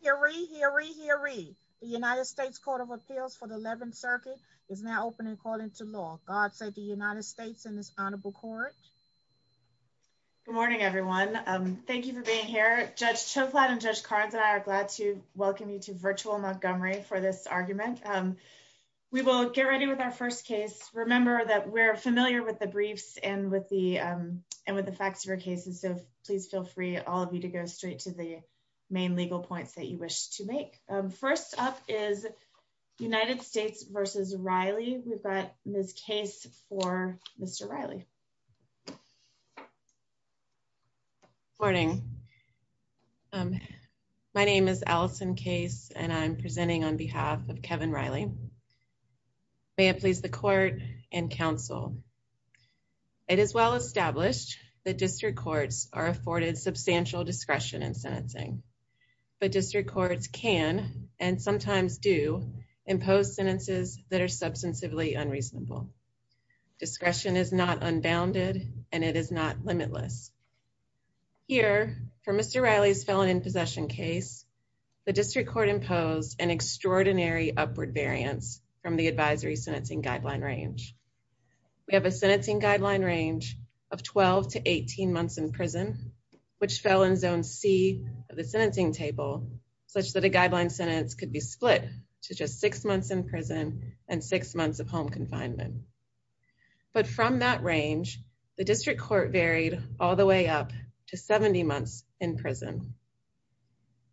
hearing hearing the United States Court of Appeals for the 11th Circuit is now open and calling to law. God save the United States in this honorable court. Good morning, everyone. Thank you for being here. Judge to flatten judge cards and I are glad to welcome you to virtual Montgomery for this argument. We will get ready with our first case. Remember that we're familiar with the briefs and with the and with the facts of our main legal points that you wish to make. First up is United States versus Riley. We've got Miss case for Mr. Riley. Morning. My name is Allison case and I'm presenting on behalf of Kevin Riley. May it please the court and counsel. It is well established that district courts are afforded substantial discretion and sentencing, but district courts can and sometimes do impose sentences that are substantively unreasonable. Discretion is not unbounded and it is not limitless. Here for Mr. Riley's felon in possession case, the district court imposed an extraordinary upward variance from the advisory sentencing guideline range. We have sentencing guideline range of 12 to 18 months in prison, which fell in Zone C of the sentencing table such that a guideline sentence could be split to just six months in prison and six months of home confinement. But from that range, the district court varied all the way up to 70 months in prison.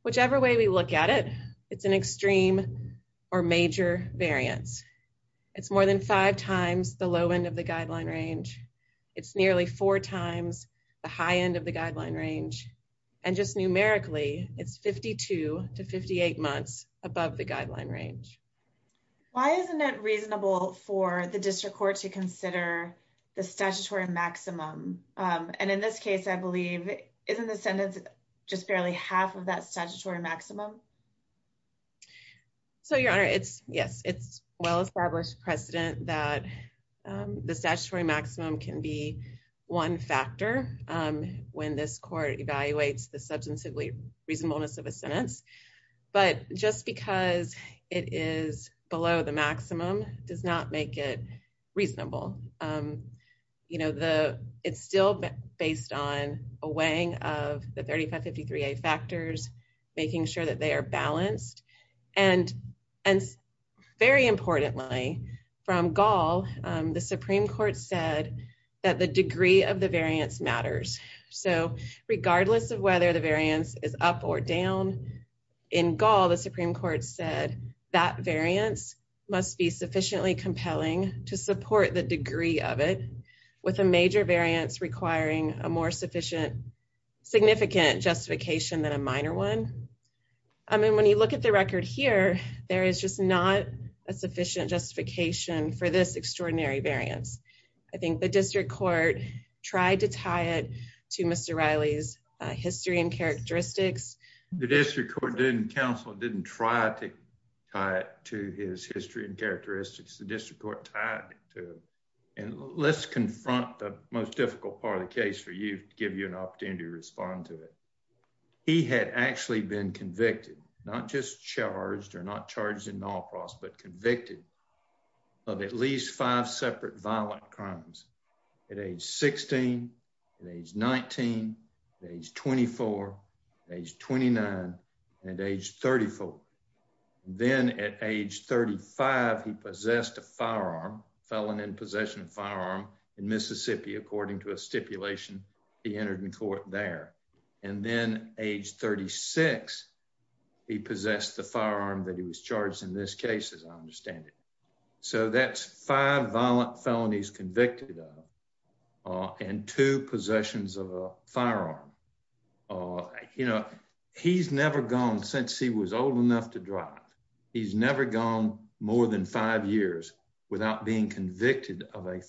Whichever way we look at it, it's an extreme or major variance. It's more than five times the low end of the guideline range. It's nearly four times the high end of the guideline range, and just numerically, it's 52 to 58 months above the guideline range. Why isn't it reasonable for the district court to consider the statutory maximum? And in this case, I believe, isn't the sentence just barely half of that statutory maximum? So your honor, it's yes, it's well established precedent that the statutory maximum can be one factor when this court evaluates the substantively reasonableness of a sentence. But just because it is below the maximum does not make it reasonable. It's still based on a weighing of the 3553A factors, making sure that they are balanced. And very importantly, from Gall, the Supreme Court said that the degree of the variance matters. So regardless of whether the variance is up or down, in Gall, the Supreme Court said that variance must be sufficiently a more sufficient, significant justification than a minor one. I mean, when you look at the record here, there is just not a sufficient justification for this extraordinary variance. I think the district court tried to tie it to Mr. Riley's history and characteristics. The district court didn't counsel, didn't try to tie it to his history and give you an opportunity to respond to it. He had actually been convicted, not just charged or not charged in all process, but convicted of at least five separate violent crimes at age 16, at age 19, age 24, age 29, and age 34. Then at age 35, he possessed a firearm, felon in possession of a firearm in Mississippi, according to a stipulation he entered in court there. And then age 36, he possessed the firearm that he was charged in this case, as I understand it. So that's five violent felonies convicted of and two possessions of a firearm. He's never gone since he was old enough to drive. He's never gone more than five years without being convicted of a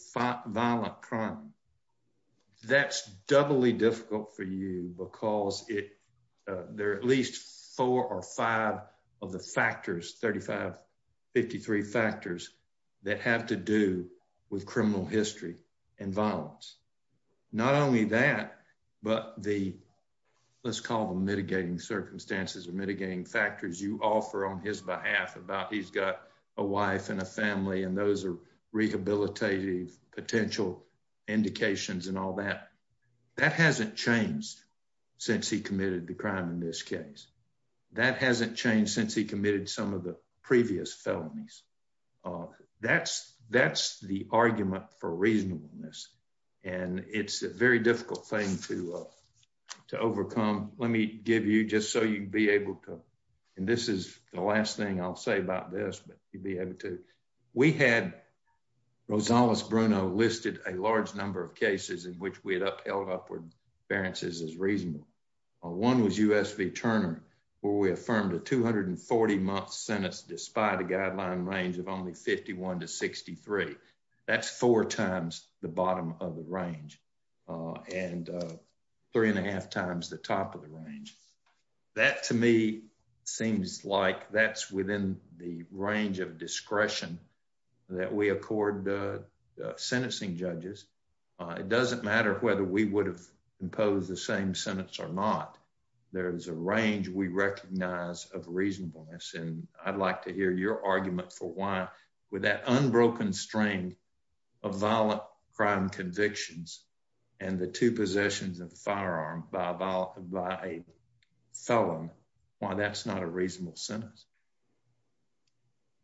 violent crime. That's doubly difficult for you because it, there are at least four or five of the factors, 35, 53 factors that have to do with criminal history and violence. Not only that, but the, let's call them mitigating circumstances or mitigating factors you offer on his behalf about he's got a wife and a family, and those are rehabilitative potential indications and all that. That hasn't changed since he committed the crime in this case. That hasn't changed since he committed some of the previous felonies. That's the argument for reasonableness, and it's a very difficult thing to overcome. Let me give you, just so you'd be able to, and this is the last thing I'll say about this, but you'd be able to. We had Rosales-Bruno listed a large number of cases in which we had upheld upward appearances as reasonable. One was U.S. v. Turner, where we affirmed a 240-month sentence despite a guideline range of only 51 to 63. That's four times the bottom of the range and three and a half times the top of the range. That, to me, seems like that's within the range of discretion that we accord sentencing judges. It doesn't matter whether we would have imposed the same sentence or not. There is a range we recognize of reasonableness, and I'd like to hear your argument for why, with that unbroken string of violent crime convictions and the two possessions of the felon, why that's not a reasonable sentence.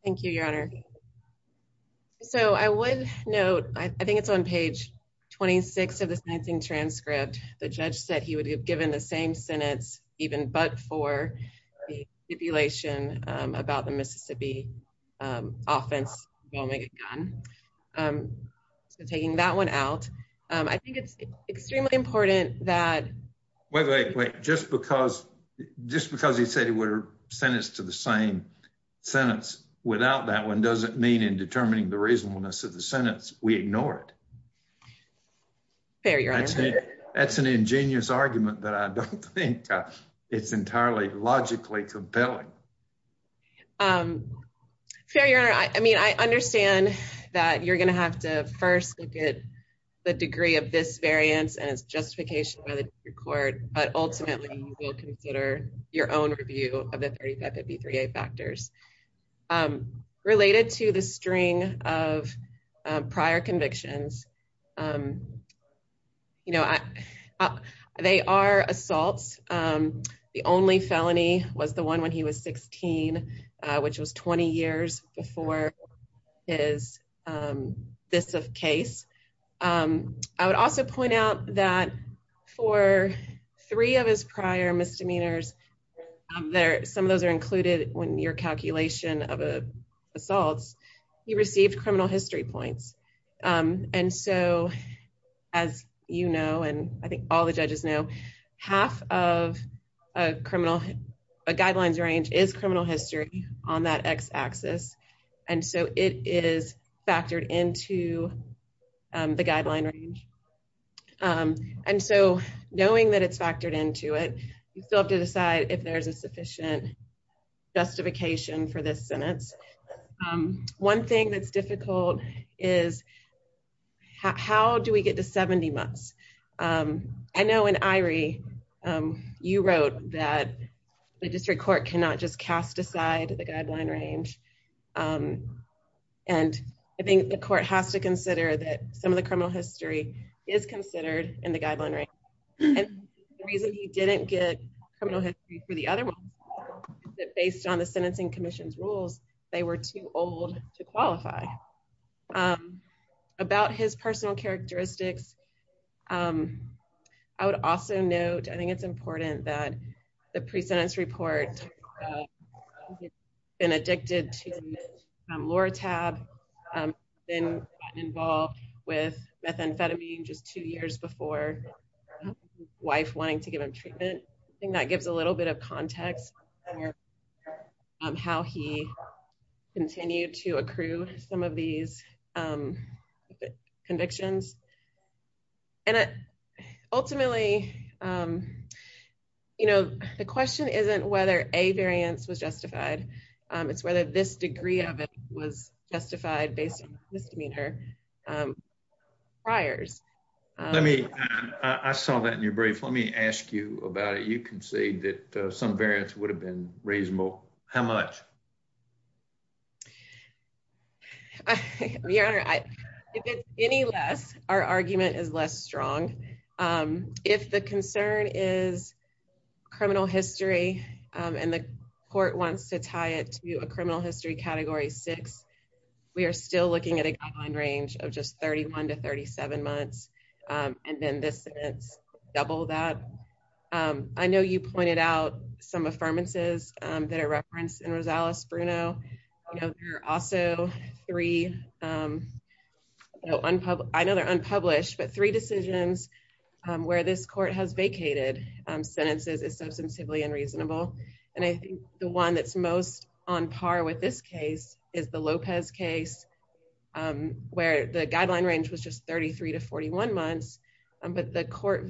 Thank you, Your Honor. So I would note, I think it's on page 26 of the sentencing transcript, the judge said he would have given the same sentence even but for the stipulation about the Mississippi offense involving a gun. So taking that one out, I think it's extremely important that... Wait, wait, wait. Just because he said he would have sent us to the same sentence without that one doesn't mean in determining the reasonableness of the sentence we ignore it. Fair, Your Honor. That's an ingenious argument, but I don't think it's entirely logically compelling. Fair, Your Honor. I mean, I understand that you're going to have to first look at the degree of this variance and its justification by the court, but ultimately you will consider your own review of the 3553A factors. Related to the string of prior convictions, they are assaults. The only felony was the this of case. I would also point out that for three of his prior misdemeanors, some of those are included when your calculation of assaults, he received criminal history points. And so as you know, and I think all the judges know, half of a guidelines range is criminal history on that X axis. And so it is factored into the guideline range. And so knowing that it's factored into it, you still have to decide if there's a sufficient justification for this sentence. One thing that's difficult is how do we get to 70 months? I know in Irie, you wrote that the district court cannot just cast aside the guideline range. And I think the court has to consider that some of the criminal history is considered in the guideline range. And the reason he didn't get criminal history for the other ones is that based on the sentencing commission's rules, they were too old to qualify. About his personal characteristics, I would also note, I think it's important that the precedence report, been addicted to Lortab, been involved with methamphetamine just two years before his wife wanting to give him treatment. I think that gives a little bit of context for how he continued to accrue some of these convictions. And ultimately, you know, the question isn't whether a variance was justified. It's whether this degree of it was justified based on misdemeanor priors. Let me, I saw that in your brief. Let me ask you about it. You can say that some variants would have been reasonable. How much? Your Honor, if it's any less, our argument is less strong. If the concern is criminal history, and the court wants to tie it to a criminal history category six, we are still looking at a guideline range of just 31 to 37 months. And then this double that. I know you pointed out some affirmances that are referenced in Rosales-Bruno. There are also three, I know they're unpublished, but three decisions where this court has vacated sentences is substantively unreasonable. And I think the one that's most on par with this case is the Lopez case, where the guideline range was just 33 to 41 months. But the court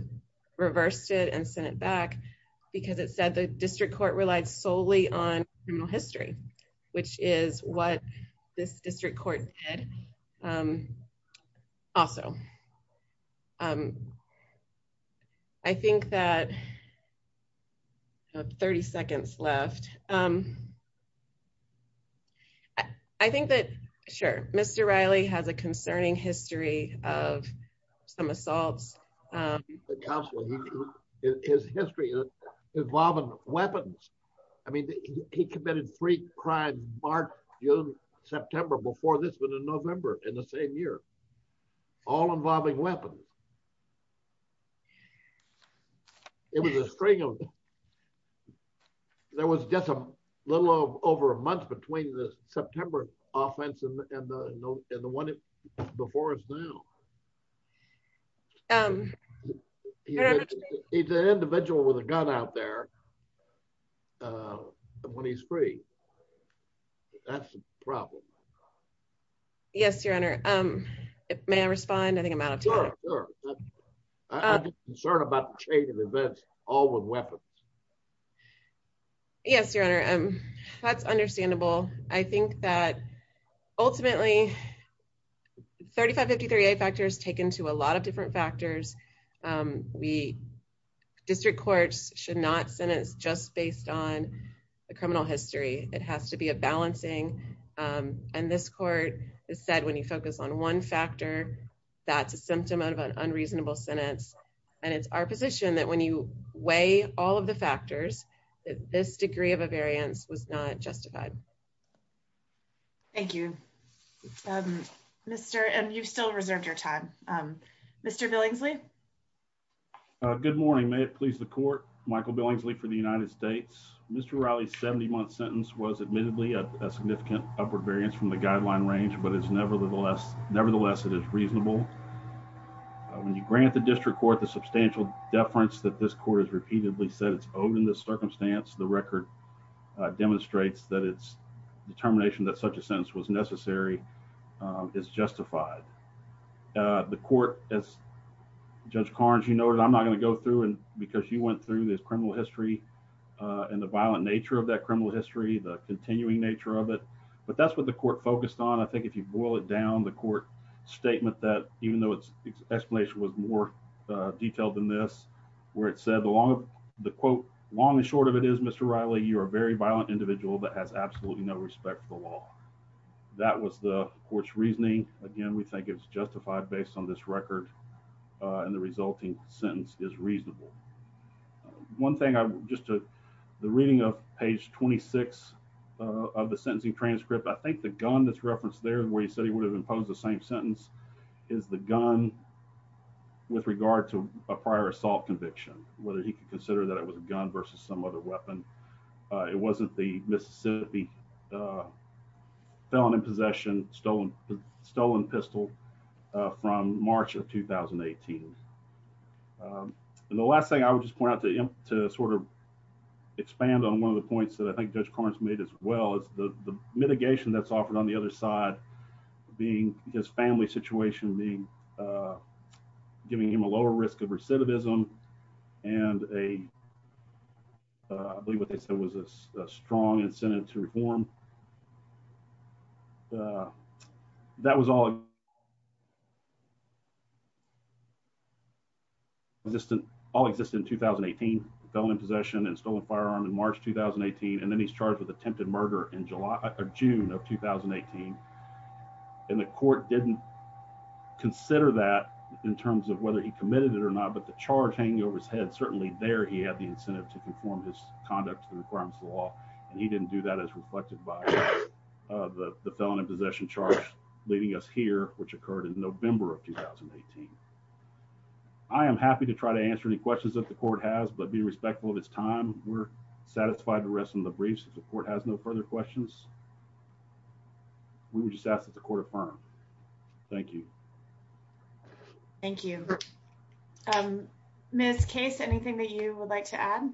reversed it and sent it back because it said the district court relied solely on criminal history, which is what this district court did. Also, I think that 30 seconds left. I think that, sure, Mr. Riley has a concerning history of some assaults. His history involving weapons. I mean, he committed three crimes, March, June, September, before this one in November in the same year, all involving weapons. It was a string of, there was just a little over a month between the September offense and the one before us now. He's an individual with a gun out there when he's free. That's the problem. Yes, Your Honor. May I respond? I think I'm out of time. Sure, sure. I'm concerned about the chain of events, all with weapons. Yes, Your Honor. That's understandable. I think that ultimately, 3553A factors taken to a lot of different factors. District courts should not sentence just based on the criminal history. It has to be a balancing. And this court has said when you focus on one factor, that's a symptom of unreasonable sentence. And it's our position that when you weigh all of the factors, that this degree of a variance was not justified. Thank you. Mr., and you've still reserved your time. Mr. Billingsley? Good morning. May it please the court. Michael Billingsley for the United States. Mr. Riley's 70-month sentence was admittedly a significant upward variance from the guideline range, but nevertheless, it is reasonable. When you grant the district court the substantial deference that this court has repeatedly said it's owed in this circumstance, the record demonstrates that its determination that such a sentence was necessary is justified. The court, as Judge Carnes, you noted, I'm not going to go through because you went through this criminal history and the violent nature of that criminal history, the continuing nature of it. But that's the court focused on. I think if you boil it down, the court statement that even though its explanation was more detailed than this, where it said the quote, long and short of it is, Mr. Riley, you're a very violent individual that has absolutely no respect for the law. That was the court's reasoning. Again, we think it's justified based on this record. And the resulting sentence is reasonable. One thing, just the reading of page 26 of the sentencing transcript, I think the gun that's referenced there where he said he would have imposed the same sentence is the gun with regard to a prior assault conviction, whether he could consider that it was a gun versus some other weapon. It wasn't the Mississippi felon in possession, stolen pistol from March of 2018. And the last thing I would just point out to sort of expand on one of the points that I think Judge Carnes made as well is the mitigation that's offered on the other side, being his family situation, giving him a lower risk of recidivism and I believe what they said was a strong incentive to reform. That was all existing in 2018, felon in possession and stolen firearm in March 2018. And then he's charged with attempted murder in June of 2018. And the court didn't consider that in terms of whether he committed it or not, but the charge hanging over his head, certainly there he had the incentive to conform his conduct to the requirements of the law. And he didn't do that as reflected by the felon in possession charge leading us here, which occurred in November of 2018. I am happy to try to answer any questions that the court has, but be respectful of his time. We're satisfied the rest of the briefs. If the court has no further questions, we would just ask that the court affirm. Thank you. Thank you. Ms. Case, anything that you would like to add?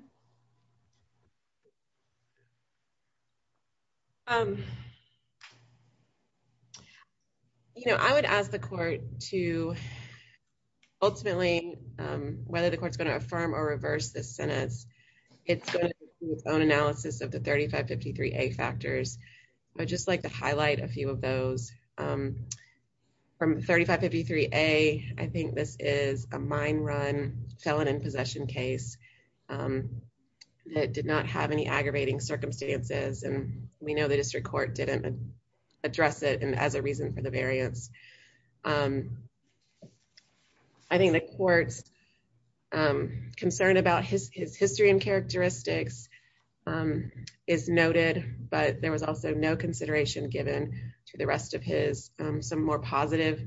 You know, I would ask the court to ultimately, whether the court's going to affirm or reverse this sentence, it's going to do its own analysis of the 3553A factors. I would just like to say that 3553A, I think this is a mine run felon in possession case that did not have any aggravating circumstances. And we know the district court didn't address it as a reason for the variance. I think the court's concern about his history and characteristics is noted, but there was also no consideration given to the rest of his, some more positive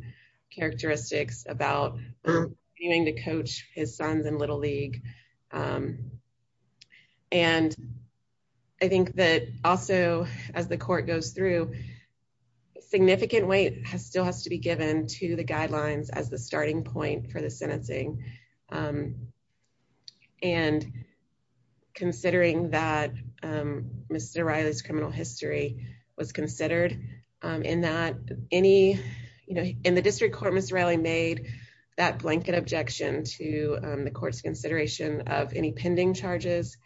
characteristics about having to coach his sons in little league. And I think that also as the court goes through, significant weight has still has to be given to the guidelines as the starting point for the was considered in that any, you know, in the district court, Ms. Riley made that blanket objection to the court's consideration of any pending charges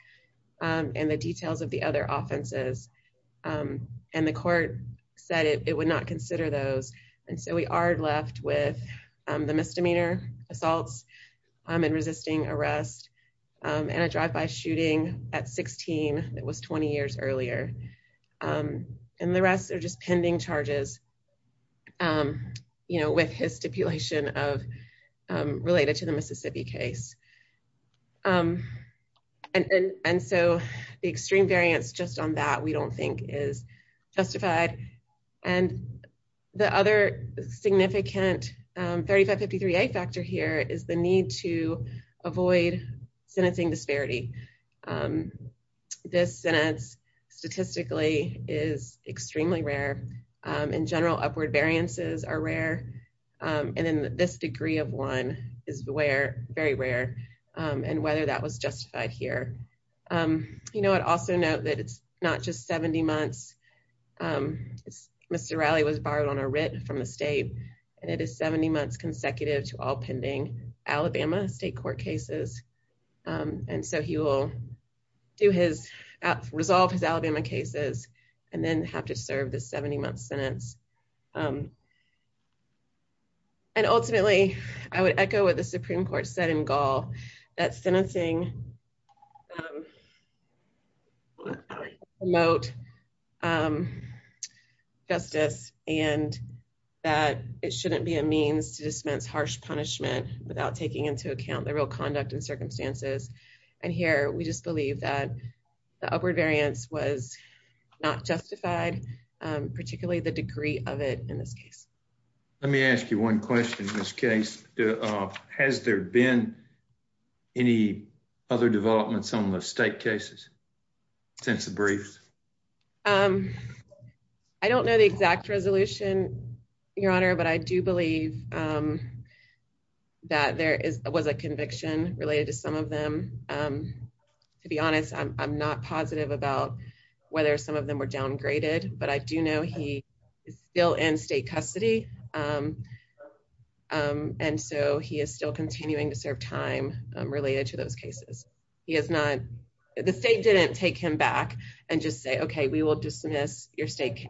and the details of the other offenses. And the court said it would not consider those. And so we are left with the misdemeanor assaults and resisting arrest and a drive-by shooting at 16. It was 20 years earlier. And the rest are just pending charges, you know, with his stipulation of related to the Mississippi case. And so the extreme variance just on that we don't think is justified. And the other significant 3553A factor here is the need to avoid sentencing disparity. This sentence statistically is extremely rare. In general, upward variances are rare. And then this degree of one is where very rare and whether that was justified here. You know, I'd also note that it's not just 70 months. Mr. Riley was borrowed on a writ from the state and it is 70 months consecutive to all pending Alabama state court cases. And so he will do his resolve his Alabama cases and then have to serve the 70-month sentence. And ultimately, I would echo what the Supreme Court said in Gall that sentencing promote justice and that it shouldn't be a means to dispense harsh punishment without taking into account the real conduct and circumstances. And here we just believe that the upward variance was not justified, particularly the degree of it in this case. Let me ask you one question in this case. Has there been any other developments on the state cases since the briefs? I don't know the exact resolution, Your Honor, but I do believe that there was a conviction related to some of them. To be honest, I'm not positive about whether some of them were downgraded, but I do know he is still in state custody. And so he is still continuing to serve time related to those cases. The state didn't take him back and just say, OK, we will dismiss your state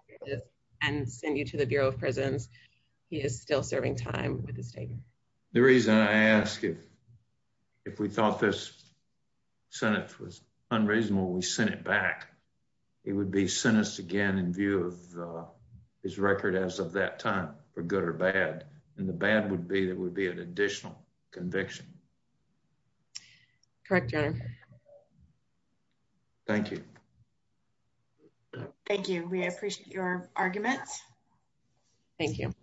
and send you to the Bureau of Prisons. He is still serving time with the state. The reason I ask if we thought this sentence was unreasonable, we sent it back. He would be sentenced again in view of his record as of that time for good or bad. And the bad would be that would be an additional conviction. Correct, Your Honor. Thank you. Thank you. We appreciate your arguments. Thank you.